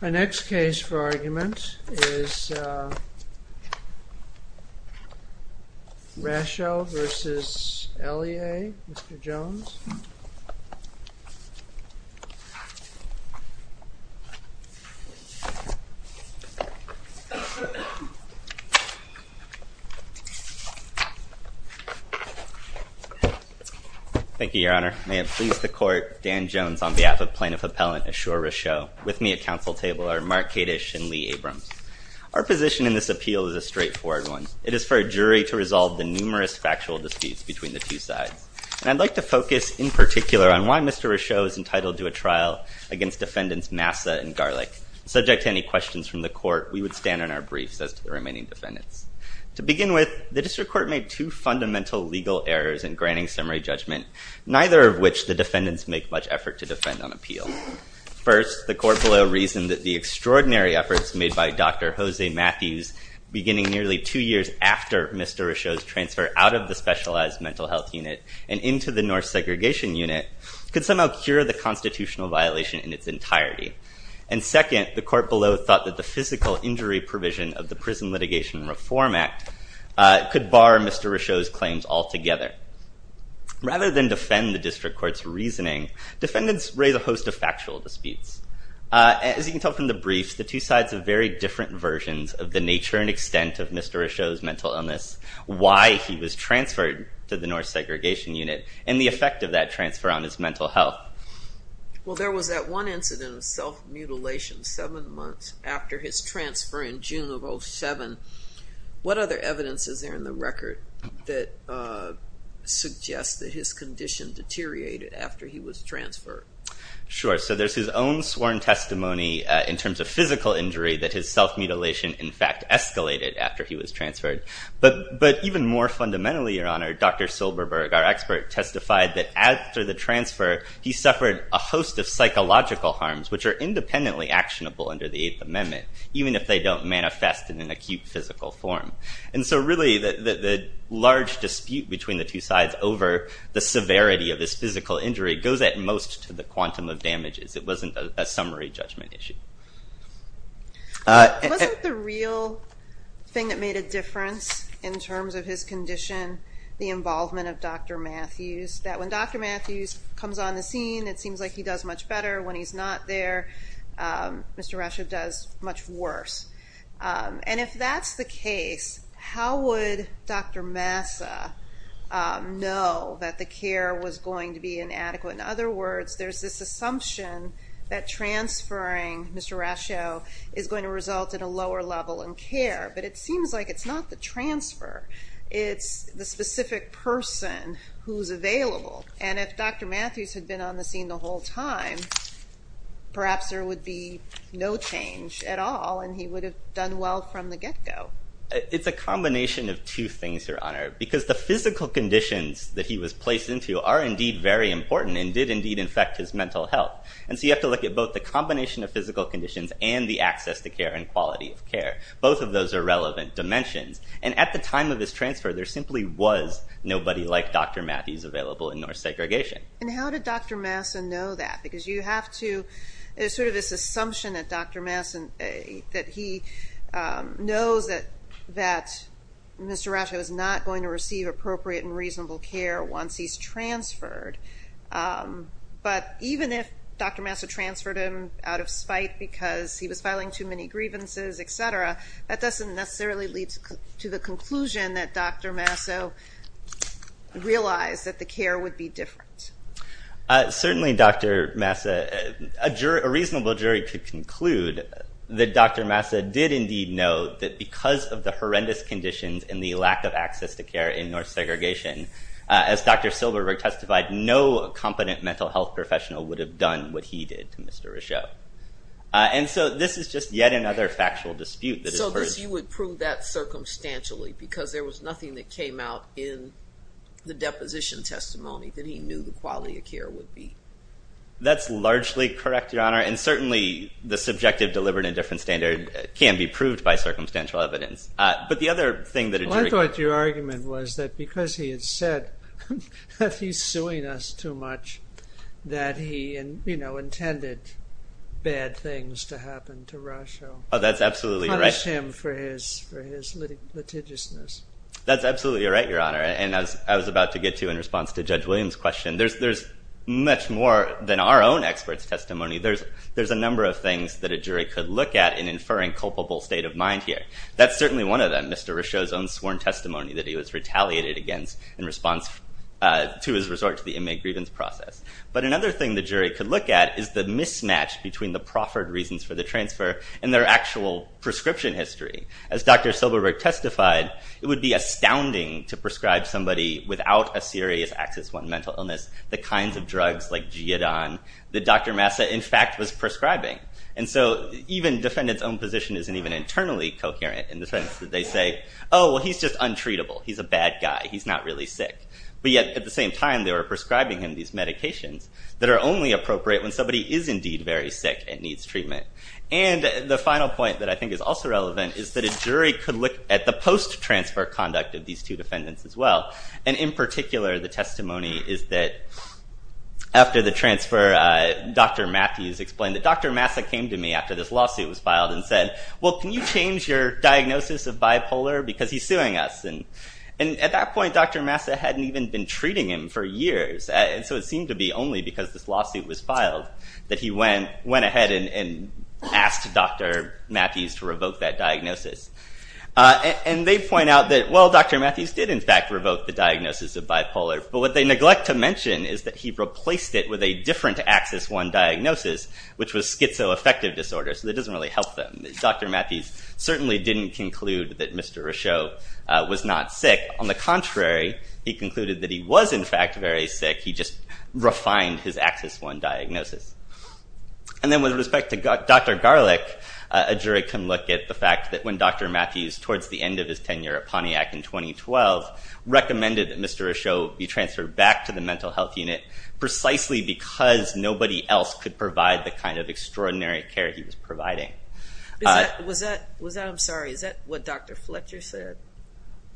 My next case for argument is Rasho v. Elyea, Mr. Jones. Thank you, Your Honor. May it please the Court, Dan Jones on behalf of Plaintiff Appellant Ashoor Rasho, with me at council table are Mark Kadish and Lee Abrams. Our position in this appeal is a straightforward one. It is for a jury to resolve the numerous factual disputes between the two sides. And I'd like to focus in particular on why Mr. Rasho is entitled to a trial against defendants Massa and Garlick. Subject to any questions from the Court, we would stand on our briefs as to the remaining defendants. To begin with, the District Court made two fundamental legal errors in granting summary judgment, neither of which the defendants make much effort to defend on appeal. First, the court below reasoned that the extraordinary efforts made by Dr. Jose Matthews beginning nearly two years after Mr. Rasho's transfer out of the specialized mental health unit and into the North segregation unit could somehow cure the constitutional violation in its entirety. And second, the court below thought that the physical injury provision of the Prison Litigation Reform Act could bar Mr. Rasho's claims altogether. Rather than defend the District Court's reasoning, defendants raise a host of factual disputes. As you can tell from the briefs, the two sides have very different versions of the nature and extent of Mr. Rasho's mental illness, why he was transferred to the North segregation unit, and the effect of that transfer on his mental health. Well, there was that one incident of self-mutilation seven months after his transfer in June of 07. What other evidence is there in the record that suggests that his condition deteriorated after he was transferred? Sure. So there's his own sworn testimony in terms of physical injury that his self-mutilation, in fact, escalated after he was transferred. But even more fundamentally, Your Honor, Dr. Silberberg, our expert, testified that after the transfer, he suffered a host of psychological harms which are independently actionable under the Eighth Amendment, even if they don't manifest in an acute physical form. And so really, the large dispute between the two sides over the severity of this physical injury goes at most to the quantum of damages. It wasn't a summary judgment issue. Wasn't the real thing that made a difference in terms of his condition the involvement of Dr. Matthews? That when Dr. Matthews comes on the scene, it seems like he does much better. When he's not there, Mr. Rascio does much worse. And if that's the case, how would Dr. Massa know that the care was going to be inadequate? In other words, there's this assumption that transferring Mr. Rascio is going to result in a lower level in care. But it seems like it's not the transfer. It's the specific person who's available. And if Dr. Matthews had been on the scene the whole time, perhaps there would be no change at all and he would have done well from the get-go. It's a combination of two things, Your Honor, because the physical conditions that he was placed into are indeed very important and did indeed infect his mental health. And so you have to look at both the combination of physical conditions and the access to care and quality of care. Both of those are relevant dimensions. And at the time of his transfer, there simply was nobody like Dr. Matthews available in North Segregation. And how did Dr. Massa know that? Because you have to – there's sort of this assumption that Dr. Massa – that he knows that Mr. Rascio is not going to receive appropriate and reasonable care once he's transferred. But even if Dr. Massa transferred him out of spite because he was filing too many grievances, et cetera, that doesn't necessarily lead to the conclusion that Dr. Massa realized that the care would be different. Certainly, Dr. Massa – a reasonable jury could conclude that Dr. Massa did indeed know that because of the horrendous conditions and the lack of access to care in North Segregation, as Dr. Silberberg testified, no competent mental health professional would have done what he did to Mr. Rascio. And so this is just yet another factual dispute. So you would prove that circumstantially because there was nothing that came out in the deposition testimony that he knew the quality of care would be? That's largely correct, Your Honor. And certainly, the subjective deliberate indifference standard can be proved by circumstantial evidence. Well, I thought your argument was that because he had said that he's suing us too much that he intended bad things to happen to Rascio. Oh, that's absolutely right. Punished him for his litigiousness. That's absolutely right, Your Honor. And as I was about to get to in response to Judge Williams' question, there's much more than our own experts' testimony. There's a number of things that a jury could look at in inferring culpable state of mind here. That's certainly one of them, Mr. Rascio's own sworn testimony that he was retaliated against in response to his resort to the inmate grievance process. But another thing the jury could look at is the mismatch between the proffered reasons for the transfer and their actual prescription history. As Dr. Silberberg testified, it would be astounding to prescribe somebody without a serious Axis I mental illness the kinds of drugs like Giodon that Dr. Massa, in fact, was prescribing. And so even defendants' own position isn't even internally coherent in the sense that they say, oh, well, he's just untreatable. He's a bad guy. He's not really sick. But yet, at the same time, they were prescribing him these medications that are only appropriate when somebody is indeed very sick and needs treatment. And the final point that I think is also relevant is that a jury could look at the post-transfer conduct of these two defendants as well. And in particular, the testimony is that after the transfer, Dr. Matthews explained that Dr. Massa came to me after this lawsuit was filed and said, well, can you change your diagnosis of bipolar because he's suing us? And at that point, Dr. Massa hadn't even been treating him for years. And so it seemed to be only because this lawsuit was filed that he went ahead and asked Dr. Matthews to revoke that diagnosis. And they point out that, well, Dr. Matthews did, in fact, revoke the diagnosis of bipolar. But what they neglect to mention is that he replaced it with a different Axis I diagnosis, which was schizoaffective disorder. So that doesn't really help them. Dr. Matthews certainly didn't conclude that Mr. Rochot was not sick. On the contrary, he concluded that he was, in fact, very sick. He just refined his Axis I diagnosis. And then with respect to Dr. Garlick, a jury can look at the fact that when Dr. Matthews, towards the end of his tenure at Pontiac in 2012, recommended that Mr. Rochot be transferred back to the mental health unit precisely because nobody else could provide the kind of extraordinary care he was providing. Was that – I'm sorry. Is that what Dr. Fletcher said?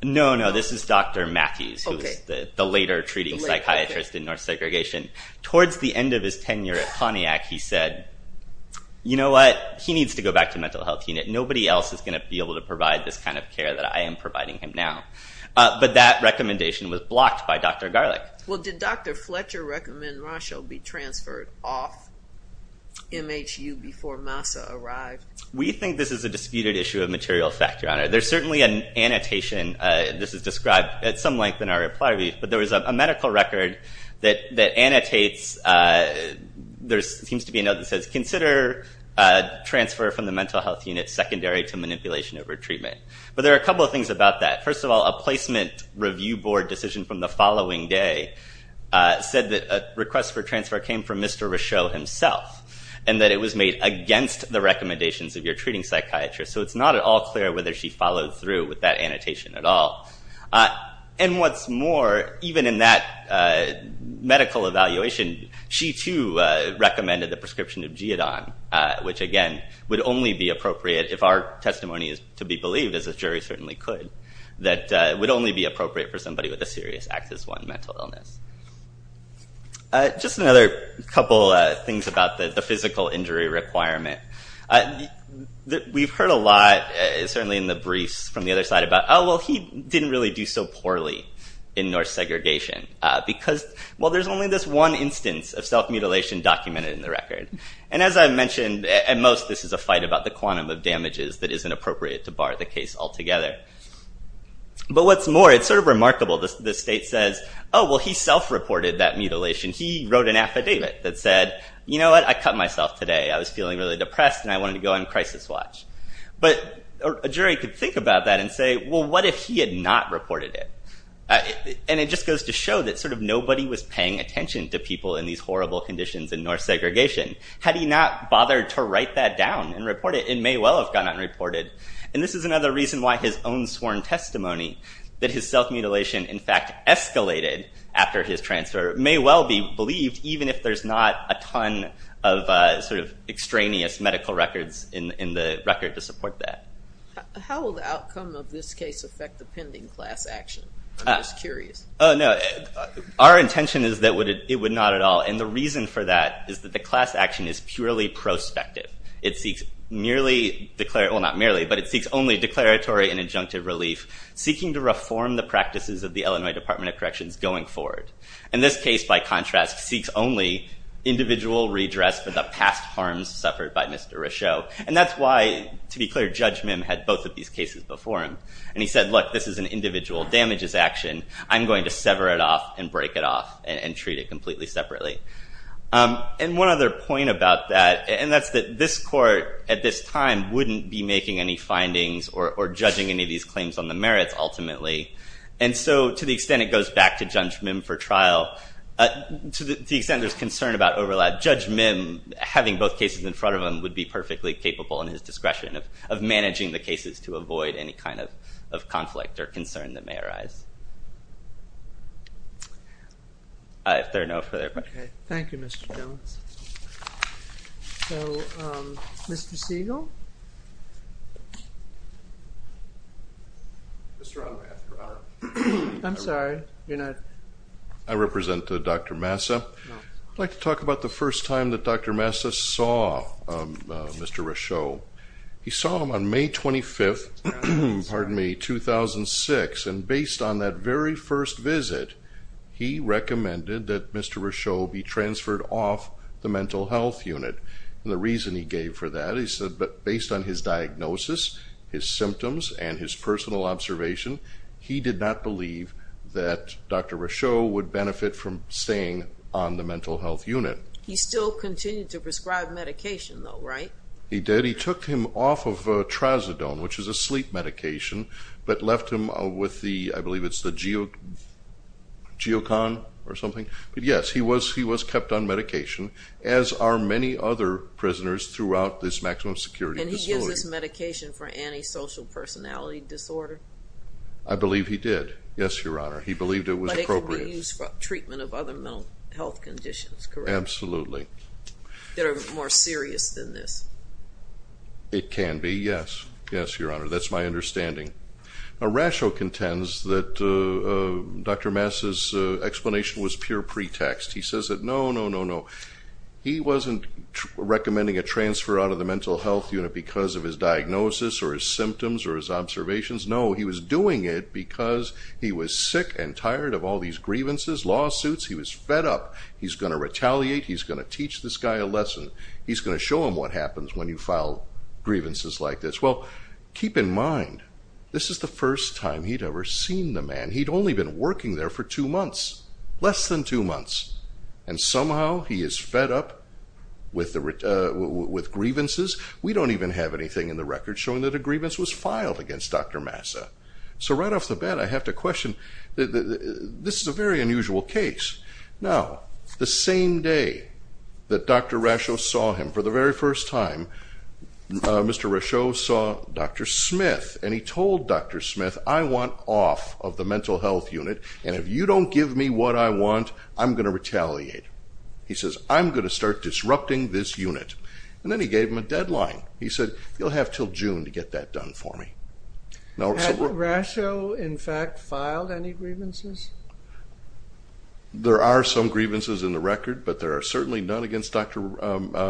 No, no. This is Dr. Matthews, who was the later treating psychiatrist in North Segregation. Towards the end of his tenure at Pontiac, he said, you know what, he needs to go back to the mental health unit. Nobody else is going to be able to provide this kind of care that I am providing him now. But that recommendation was blocked by Dr. Garlick. Well, did Dr. Fletcher recommend Rochot be transferred off MHU before MASA arrived? We think this is a disputed issue of material fact, Your Honor. There's certainly an annotation. This is described at some length in our reply brief. But there was a medical record that annotates – there seems to be a note that says, consider transfer from the mental health unit secondary to manipulation over treatment. But there are a couple of things about that. First of all, a placement review board decision from the following day said that a request for transfer came from Mr. Rochot himself and that it was made against the recommendations of your treating psychiatrist. So it's not at all clear whether she followed through with that annotation at all. And what's more, even in that medical evaluation, she too recommended the prescription of Giodon, which again would only be appropriate if our testimony is to be believed, as a jury certainly could, that it would only be appropriate for somebody with a serious Axis I mental illness. Just another couple of things about the physical injury requirement. We've heard a lot, certainly in the briefs from the other side, about, oh, well, he didn't really do so poorly in Norse segregation. Because, well, there's only this one instance of self-mutilation documented in the record. And as I mentioned, at most, this is a fight about the quantum of damages that isn't appropriate to bar the case altogether. But what's more, it's sort of remarkable. The state says, oh, well, he self-reported that mutilation. He wrote an affidavit that said, you know what? I cut myself today. I was feeling really depressed, and I wanted to go on crisis watch. But a jury could think about that and say, well, what if he had not reported it? And it just goes to show that sort of nobody was paying attention to people in these horrible conditions in Norse segregation. Had he not bothered to write that down and report it, it may well have gone unreported. And this is another reason why his own sworn testimony, that his self-mutilation, in fact, escalated after his transfer, may well be believed, even if there's not a ton of sort of extraneous medical records in the record to support that. How will the outcome of this case affect the pending class action? I'm just curious. Oh, no. Our intention is that it would not at all. And the reason for that is that the class action is purely prospective. Well, not merely, but it seeks only declaratory and injunctive relief, seeking to reform the practices of the Illinois Department of Corrections going forward. And this case, by contrast, seeks only individual redress for the past harms suffered by Mr. Rochot. And that's why, to be clear, Judge Mim had both of these cases before him. And he said, look, this is an individual damages action. I'm going to sever it off and break it off and treat it completely separately. And one other point about that, and that's that this court, at this time, wouldn't be making any findings or judging any of these claims on the merits, ultimately. And so, to the extent it goes back to Judge Mim for trial, to the extent there's concern about overlap, Judge Mim, having both cases in front of him, would be perfectly capable, in his discretion, of managing the cases to avoid any kind of conflict or concern that may arise. If there are no further questions. Okay. Thank you, Mr. Jones. So, Mr. Siegel? Mr. Odom, I have the honor. I'm sorry. You're not? I represent Dr. Massa. I'd like to talk about the first time that Dr. Massa saw Mr. Rochot. He saw him on May 25th, 2006, and based on that very first visit, he recommended that Mr. Rochot be transferred off the mental health unit. And the reason he gave for that, he said that based on his diagnosis, his symptoms, and his personal observation, he did not believe that Dr. Rochot would benefit from staying on the mental health unit. He still continued to prescribe medication, though, right? He did. He took him off of trazodone, which is a sleep medication, but left him with the, I believe it's the Geocon or something. But, yes, he was kept on medication, as are many other prisoners throughout this maximum security facility. And he gives this medication for antisocial personality disorder? I believe he did, yes, Your Honor. He believed it was appropriate. But it could be used for treatment of other mental health conditions, correct? Absolutely. That are more serious than this? It can be, yes. Yes, Your Honor, that's my understanding. Rochot contends that Dr. Massa's explanation was pure pretext. He says that, no, no, no, no. He wasn't recommending a transfer out of the mental health unit because of his diagnosis or his symptoms or his observations. No, he was doing it because he was sick and tired of all these grievances, lawsuits. He was fed up. He's going to retaliate. He's going to teach this guy a lesson. He's going to show him what happens when you file grievances like this. Well, keep in mind, this is the first time he'd ever seen the man. He'd only been working there for two months, less than two months. And somehow he is fed up with grievances. We don't even have anything in the record showing that a grievance was filed against Dr. Massa. So right off the bat, I have to question, this is a very unusual case. Now, the same day that Dr. Rochot saw him for the very first time, Mr. Rochot saw Dr. Smith, and he told Dr. Smith, I want off of the mental health unit, and if you don't give me what I want, I'm going to retaliate. He says, I'm going to start disrupting this unit. And then he gave him a deadline. He said, you'll have until June to get that done for me. Has Rochot, in fact, filed any grievances? There are some grievances in the record, but there are certainly none against Dr.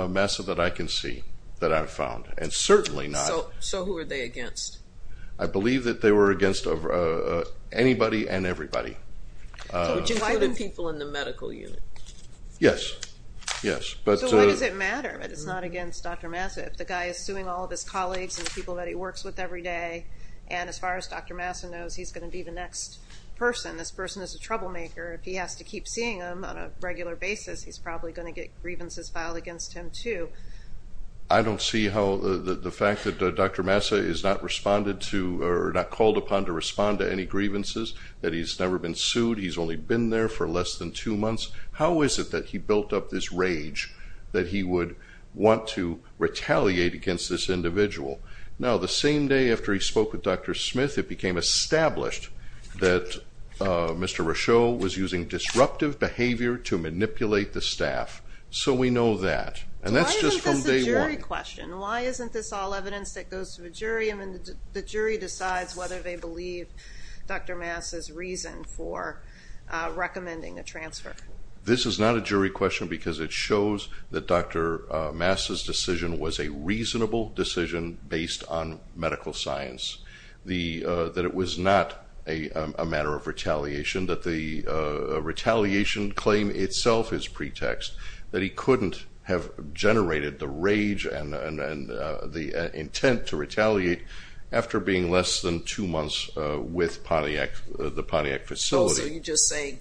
Massa that I can see that I've found, and certainly not. So who are they against? I believe that they were against anybody and everybody. Which included people in the medical unit? Yes. So why does it matter that it's not against Dr. Massa? If the guy is suing all of his colleagues and the people that he works with every day, and as far as Dr. Massa knows, he's going to be the next person. This person is a troublemaker. If he has to keep seeing them on a regular basis, he's probably going to get grievances filed against him too. I don't see how the fact that Dr. Massa is not responded to or not called upon to respond to any grievances, that he's never been sued, he's only been there for less than two months, how is it that he built up this rage that he would want to retaliate against this individual? Now, the same day after he spoke with Dr. Smith, it became established that Mr. Rochot was using disruptive behavior to manipulate the staff. So we know that. Why isn't this a jury question? The jury decides whether they believe Dr. Massa's reason for recommending a transfer. This is not a jury question because it shows that Dr. Massa's decision was a reasonable decision based on medical science, that it was not a matter of retaliation, that the retaliation claim itself is pretext, that he couldn't have generated the rage and the intent to retaliate after being less than two months with the Pontiac facility. So you're just saying,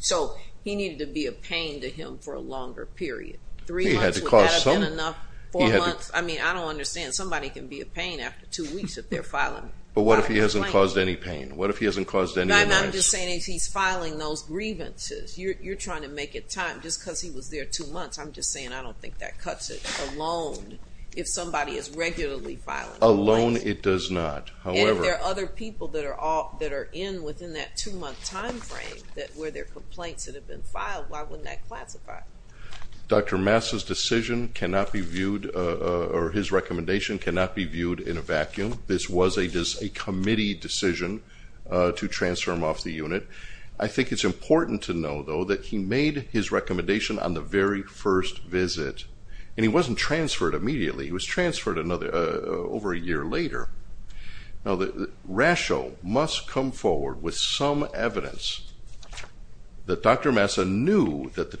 so he needed to be a pain to him for a longer period. Three months would have been enough, four months. I mean, I don't understand. Somebody can be a pain after two weeks if they're filing. But what if he hasn't caused any pain? What if he hasn't caused any annoyance? No, no, I'm just saying if he's filing those grievances, you're trying to make it time just because he was there two months. I'm just saying I don't think that cuts it alone if somebody is regularly filing complaints. Alone it does not. And if there are other people that are in within that two-month time frame where there are complaints that have been filed, why wouldn't that classify it? Dr. Massa's decision cannot be viewed, or his recommendation cannot be viewed in a vacuum. This was a committee decision to transfer him off the unit. I think it's important to know, though, that he made his recommendation on the very first visit, and he wasn't transferred immediately. He was transferred over a year later. Now, the ratio must come forward with some evidence that Dr. Massa knew that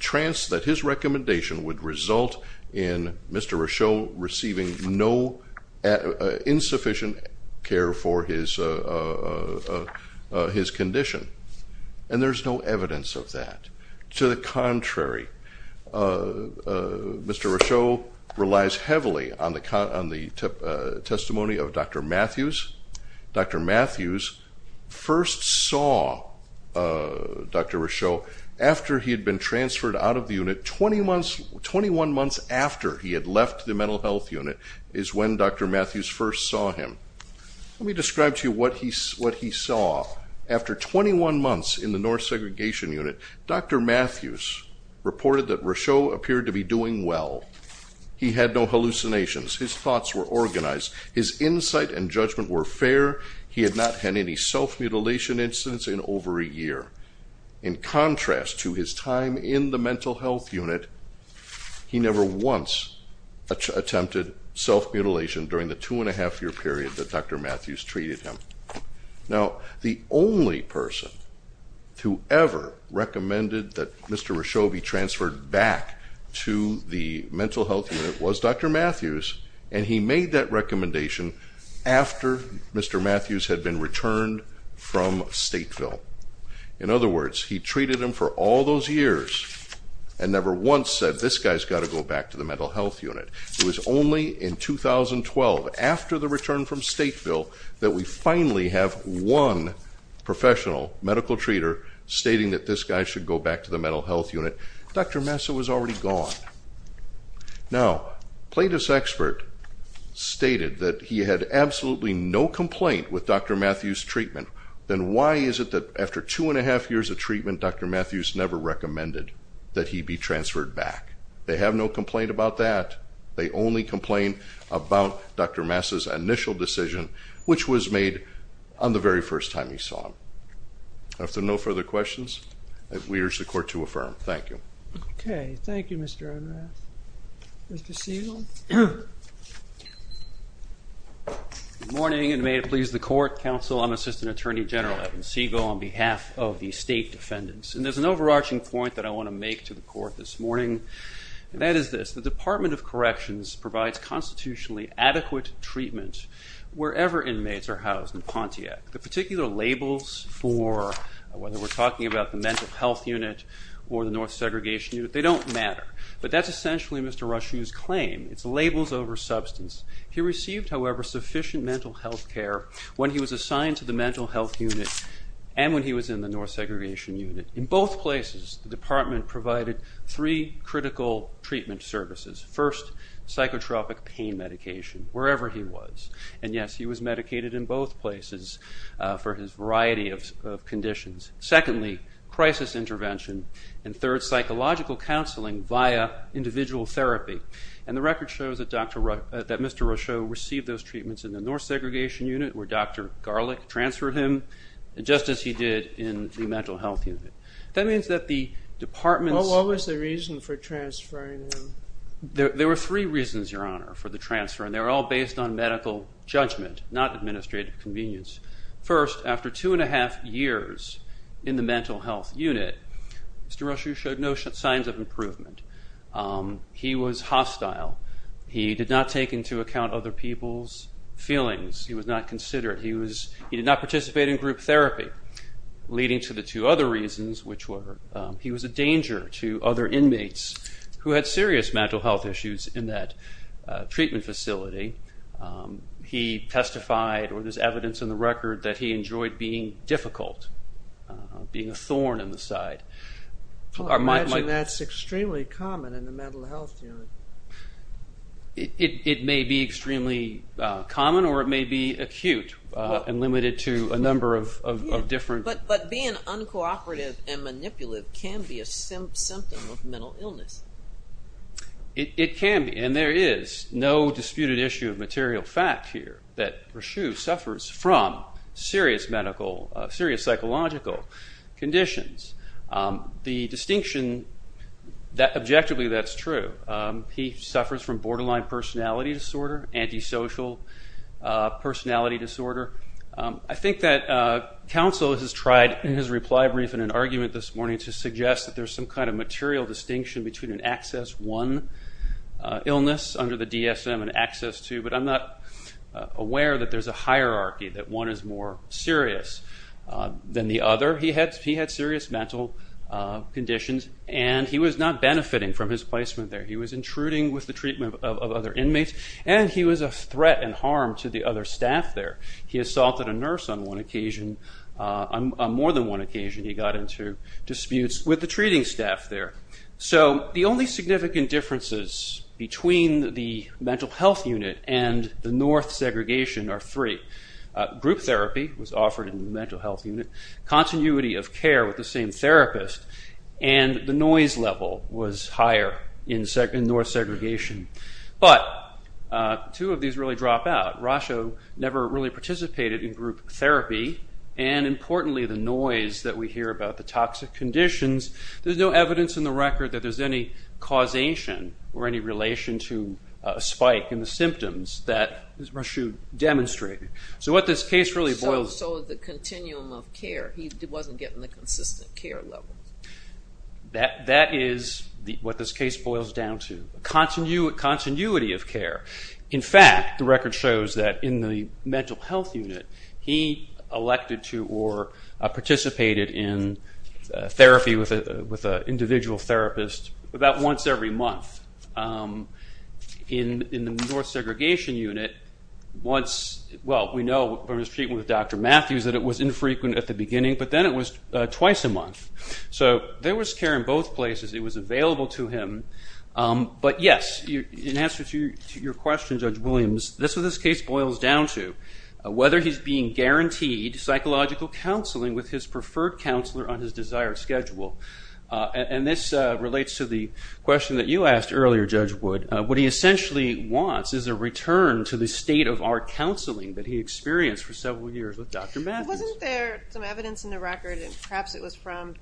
his recommendation would result in Mr. And there's no evidence of that. To the contrary, Mr. Rochot relies heavily on the testimony of Dr. Matthews. Dr. Matthews first saw Dr. Rochot after he had been transferred out of the unit 21 months after he had left the mental health unit is when Dr. Matthews first saw him. Let me describe to you what he saw. After 21 months in the North Segregation Unit, Dr. Matthews reported that Rochot appeared to be doing well. He had no hallucinations. His thoughts were organized. His insight and judgment were fair. He had not had any self-mutilation incidents in over a year. In contrast to his time in the mental health unit, he never once attempted self-mutilation during the two-and-a-half-year period that Dr. Matthews treated him. Now, the only person who ever recommended that Mr. Rochot be transferred back to the mental health unit was Dr. Matthews, and he made that recommendation after Mr. Matthews had been returned from Stateville. In other words, he treated him for all those years and never once said, this guy's got to go back to the mental health unit. It was only in 2012, after the return from Stateville, that we finally have one professional medical treater stating that this guy should go back to the mental health unit. Dr. Massa was already gone. Now, a plaintiff's expert stated that he had absolutely no complaint with Dr. Matthews' treatment. Then why is it that after two-and-a-half years of treatment, Dr. Matthews never recommended that he be transferred back? They have no complaint about that. They only complain about Dr. Massa's initial decision, which was made on the very first time he saw him. If there are no further questions, we urge the court to affirm. Thank you. Okay. Thank you, Mr. Unrath. Mr. Siegel? Good morning, and may it please the court, counsel. I'm Assistant Attorney General Evan Siegel on behalf of the State Defendants. And there's an overarching point that I want to make to the court this morning, and that is this. The Department of Corrections provides constitutionally adequate treatment wherever inmates are housed in Pontiac. The particular labels for whether we're talking about the mental health unit or the North Segregation Unit, they don't matter. But that's essentially Mr. Rushue's claim. It's labels over substance. He received, however, sufficient mental health care when he was assigned to the mental health unit and when he was in the North Segregation Unit. In both places, the department provided three critical treatment services. First, psychotropic pain medication wherever he was. And, yes, he was medicated in both places for his variety of conditions. Secondly, crisis intervention. And third, psychological counseling via individual therapy. And the record shows that Mr. Rushue received those treatments in the North Segregation Unit where Dr. Garlick transferred him, just as he did in the mental health unit. That means that the department's- What was the reason for transferring him? There were three reasons, Your Honor, for the transfer, and they were all based on medical judgment, not administrative convenience. First, after two and a half years in the mental health unit, Mr. Rushue showed no signs of improvement. He was hostile. He did not take into account other people's feelings. He was not considerate. He did not participate in group therapy, leading to the two other reasons, which were he was a danger to other inmates who had serious mental health issues in that treatment facility. He testified, or there's evidence in the record, that he enjoyed being difficult, being a thorn in the side. I imagine that's extremely common in the mental health unit. It may be extremely common, or it may be acute and limited to a number of different- But being uncooperative and manipulative can be a symptom of mental illness. It can be, and there is no disputed issue of material fact here that Rushue suffers from serious psychological conditions. The distinction, objectively, that's true. He suffers from borderline personality disorder, antisocial personality disorder. I think that counsel has tried in his reply brief in an argument this morning to suggest that there's some kind of material distinction between an Access I illness under the DSM and Access II, but I'm not aware that there's a hierarchy, that one is more serious than the other. He had serious mental conditions, and he was not benefiting from his placement there. He was intruding with the treatment of other inmates, and he was a threat and harm to the other staff there. He assaulted a nurse on more than one occasion. He got into disputes with the treating staff there. The only significant differences between the mental health unit and the North segregation are three. Group therapy was offered in the mental health unit. Continuity of care with the same therapist, and the noise level was higher in North segregation. But two of these really drop out. Rushue never really participated in group therapy, and importantly, the noise that we hear about the toxic conditions, there's no evidence in the record that there's any causation or any relation to a spike in the symptoms that Rushue demonstrated. So what this case really boils- So the continuum of care, he wasn't getting the consistent care level. That is what this case boils down to, continuity of care. In fact, the record shows that in the mental health unit, he elected to or participated in therapy with an individual therapist about once every month. In the North segregation unit, once- Well, we know from his treatment with Dr. Matthews that it was infrequent at the beginning, but then it was twice a month. So there was care in both places. It was available to him. But yes, in answer to your question, Judge Williams, this is what this case boils down to, whether he's being guaranteed psychological counseling with his preferred counselor on his desired schedule. And this relates to the question that you asked earlier, Judge Wood. What he essentially wants is a return to the state of our counseling that he experienced for several years with Dr. Matthews. Wasn't there some evidence in the record, and perhaps it was from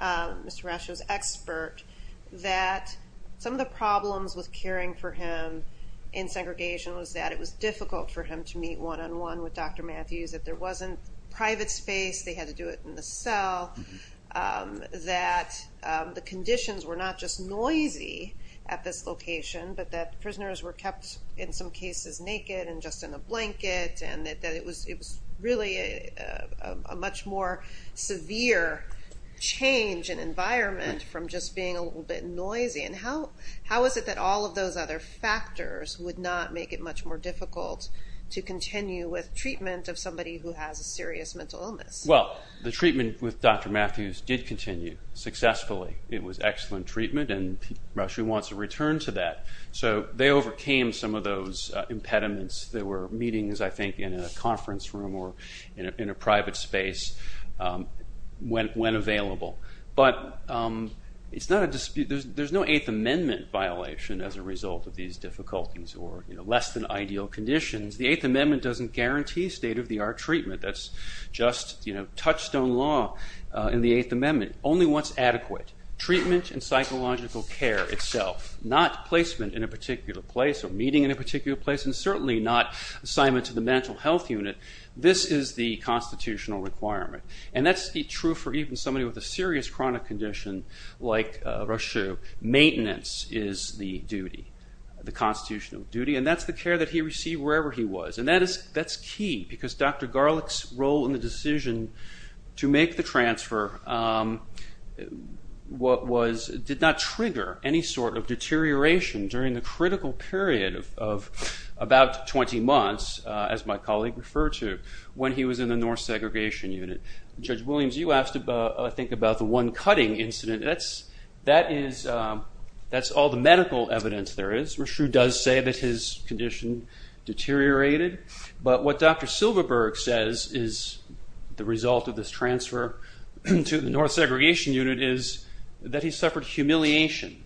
Mr. Rushue's expert, that some of the problems with caring for him in segregation was that it was difficult for him to meet one-on-one with Dr. Matthews, that there wasn't private space, they had to do it in the cell, that the conditions were not just noisy at this location, but that prisoners were kept, in some cases, naked and just in a blanket, and that it was really a much more severe change in environment from just being a little bit noisy. And how is it that all of those other factors would not make it much more difficult to continue with treatment of somebody who has a serious mental illness? Well, the treatment with Dr. Matthews did continue successfully. It was excellent treatment, and Rushue wants a return to that. So they overcame some of those impediments. There were meetings, I think, in a conference room or in a private space, when available. But there's no Eighth Amendment violation as a result of these difficulties or less-than-ideal conditions. The Eighth Amendment doesn't guarantee state-of-the-art treatment. That's just touchstone law in the Eighth Amendment. Only what's adequate, treatment and psychological care itself, not placement in a particular place or meeting in a particular place, and certainly not assignment to the mental health unit. This is the constitutional requirement. And that's true for even somebody with a serious chronic condition like Rushue. Maintenance is the duty, the constitutional duty, and that's the care that he received wherever he was. And that's key, because Dr. Garlick's role in the decision to make the transfer did not trigger any sort of deterioration during the critical period of about 20 months, as my colleague referred to, when he was in the North Segregation Unit. Judge Williams, you asked, I think, about the one cutting incident. That's all the medical evidence there is. Rushue does say that his condition deteriorated. But what Dr. Silverberg says is the result of this transfer to the North Segregation Unit is that he suffered humiliation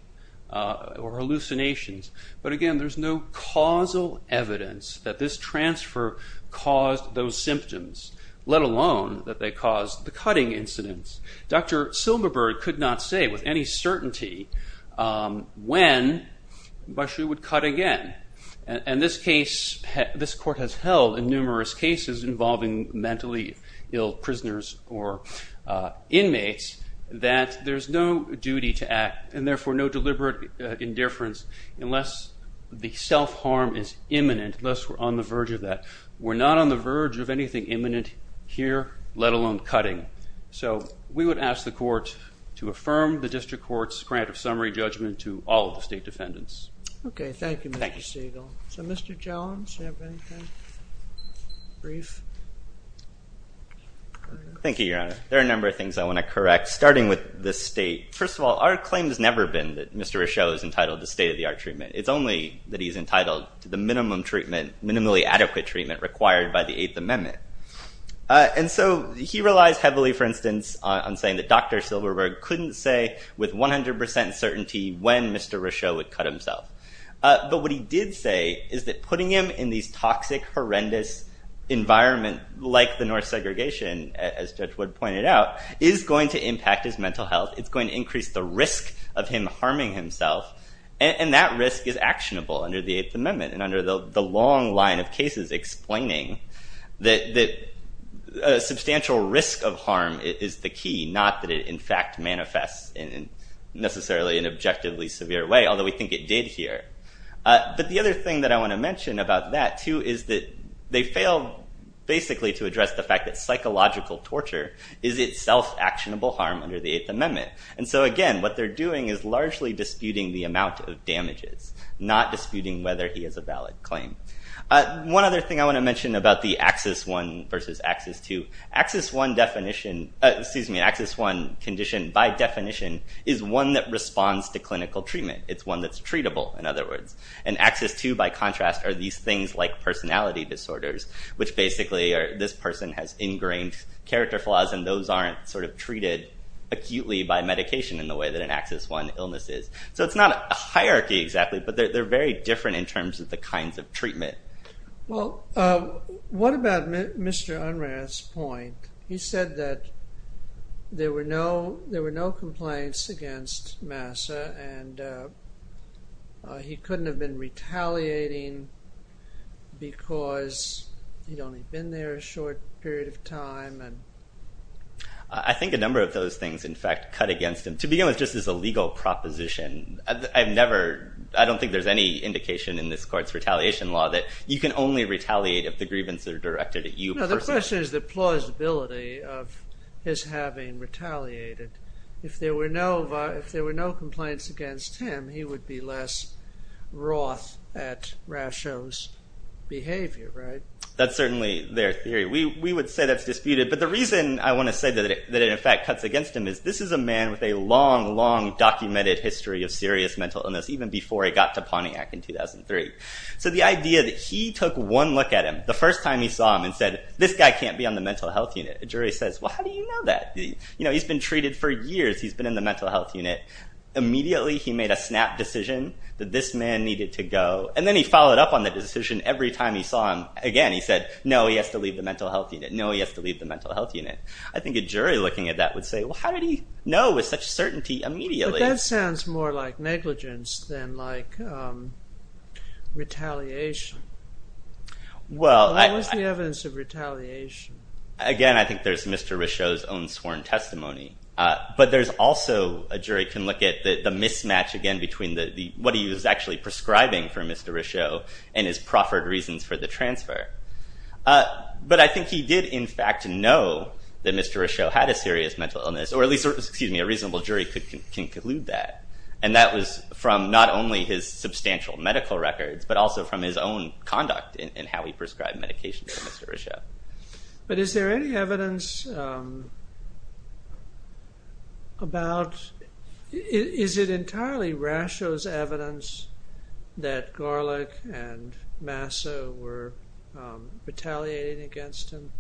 or hallucinations. But again, there's no causal evidence that this transfer caused those symptoms, let alone that they caused the cutting incidents. Dr. Silverberg could not say with any certainty when Rushue would cut again. And this case, this court has held in numerous cases involving mentally ill prisoners or inmates that there's no duty to act, and therefore no deliberate indifference unless the self-harm is imminent, unless we're on the verge of that. We're not on the verge of anything imminent here, let alone cutting. So we would ask the court to affirm the district court's grant of summary judgment to all of the state defendants. Okay, thank you, Mr. Siegel. Thank you. So Mr. Jones, do you have anything brief? Thank you, Your Honor. There are a number of things I want to correct, starting with the state. First of all, our claim has never been that Mr. Rushue is entitled to state-of-the-art treatment. It's only that he's entitled to the minimum treatment, minimally adequate treatment required by the Eighth Amendment. And so he relies heavily, for instance, on saying that Dr. Silverberg couldn't say with 100 percent certainty when Mr. Rushue would cut himself. But what he did say is that putting him in these toxic, horrendous environment, like the North segregation, as Judge Wood pointed out, is going to impact his mental health. It's going to increase the risk of him harming himself, and that risk is actionable under the Eighth Amendment and under the long line of cases explaining that a substantial risk of harm is the key, not that it, in fact, manifests in necessarily an objectively severe way, although we think it did here. But the other thing that I want to mention about that, too, is that they failed, basically, to address the fact that psychological torture is itself actionable harm under the Eighth Amendment. And so, again, what they're doing is largely disputing the amount of damages, not disputing whether he has a valid claim. One other thing I want to mention about the AXIS-1 versus AXIS-2. AXIS-1 definition—excuse me, AXIS-1 condition, by definition, is one that responds to clinical treatment. It's one that's treatable, in other words. And AXIS-2, by contrast, are these things like personality disorders, which basically are this person has ingrained character flaws and those aren't sort of treated acutely by medication in the way that an AXIS-1 illness is. So it's not a hierarchy exactly, but they're very different in terms of the kinds of treatment. Well, what about Mr. Unrath's point? He said that there were no complaints against MASA and he couldn't have been retaliating because he'd only been there a short period of time and— I think a number of those things, in fact, cut against him. To begin with, just as a legal proposition, I've never—I don't think there's any indication in this court's retaliation law that you can only retaliate if the grievance are directed at you personally. No, the question is the plausibility of his having retaliated. If there were no complaints against him, he would be less wroth at Rasho's behavior, right? That's certainly their theory. We would say that's disputed. But the reason I want to say that it in fact cuts against him is this is a man with a long, long documented history of serious mental illness, even before he got to Pontiac in 2003. So the idea that he took one look at him the first time he saw him and said, this guy can't be on the mental health unit, a jury says, well, how do you know that? You know, he's been treated for years. He's been in the mental health unit. Immediately he made a snap decision that this man needed to go. And then he followed up on the decision every time he saw him. Again, he said, no, he has to leave the mental health unit. No, he has to leave the mental health unit. I think a jury looking at that would say, well, how did he know with such certainty immediately? But that sounds more like negligence than like retaliation. Well, I— What's the evidence of retaliation? Again, I think there's Mr. Rochot's own sworn testimony. But there's also—a jury can look at the mismatch again between what he was actually prescribing for Mr. Rochot and his proffered reasons for the transfer. But I think he did in fact know that Mr. Rochot had a serious mental illness, or at least a reasonable jury can conclude that. And that was from not only his substantial medical records, but also from his own conduct in how he prescribed medication to Mr. Rochot. But is there any evidence about—is it entirely Rochot's evidence that Garlick and Masso were retaliating against him?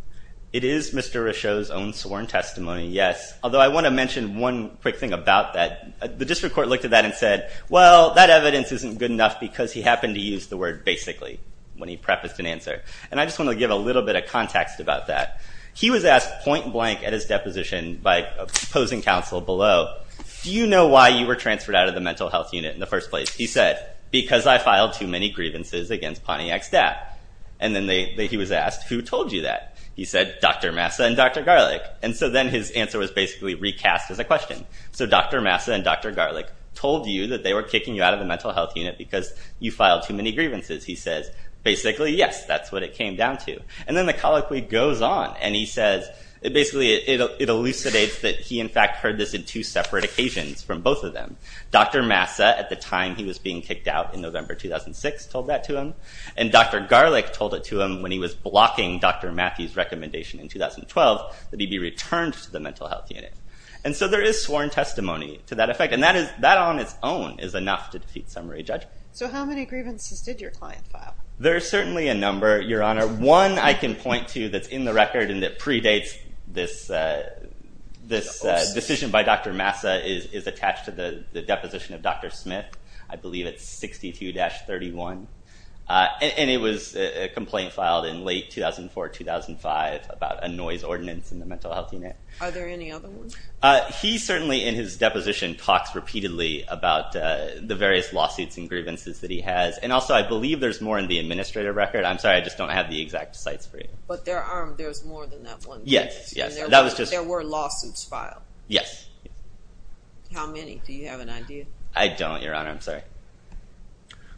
It is Mr. Rochot's own sworn testimony, yes. Although I want to mention one quick thing about that. The district court looked at that and said, well, that evidence isn't good enough because he happened to use the word basically when he prefaced an answer. And I just want to give a little bit of context about that. He was asked point blank at his deposition by opposing counsel below, do you know why you were transferred out of the mental health unit in the first place? He said, because I filed too many grievances against Pontiac's dad. And then he was asked, who told you that? He said, Dr. Massa and Dr. Garlick. And so then his answer was basically recast as a question. So Dr. Massa and Dr. Garlick told you that they were kicking you out of the mental health unit because you filed too many grievances. He says, basically, yes, that's what it came down to. And then the colloquy goes on, and he says, basically, it elucidates that he, in fact, heard this in two separate occasions from both of them. Dr. Massa, at the time he was being kicked out in November 2006, told that to him, and Dr. Garlick told it to him when he was blocking Dr. Matthews' recommendation in 2012 that he be returned to the mental health unit. And so there is sworn testimony to that effect, and that on its own is enough to defeat summary judgment. So how many grievances did your client file? There are certainly a number, Your Honor. One I can point to that's in the record and that predates this decision by Dr. Massa is attached to the deposition of Dr. Smith. I believe it's 62-31, and it was a complaint filed in late 2004, 2005 about a noise ordinance in the mental health unit. Are there any other ones? He certainly, in his deposition, talks repeatedly about the various lawsuits and grievances that he has, and also I believe there's more in the administrative record. I'm sorry, I just don't have the exact sites for you. But there's more than that one case. Yes, yes. There were lawsuits filed. Yes. How many? Do you have an idea? I don't, Your Honor. I'm sorry.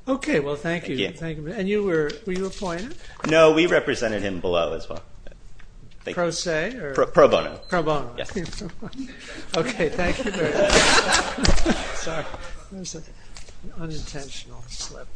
Okay. Well, thank you. Thank you. And were you appointed? No, we represented him below as well. Pro se? Pro bono. Pro bono. Yes. Okay. Thank you. Sorry. One second. Unintentional slip.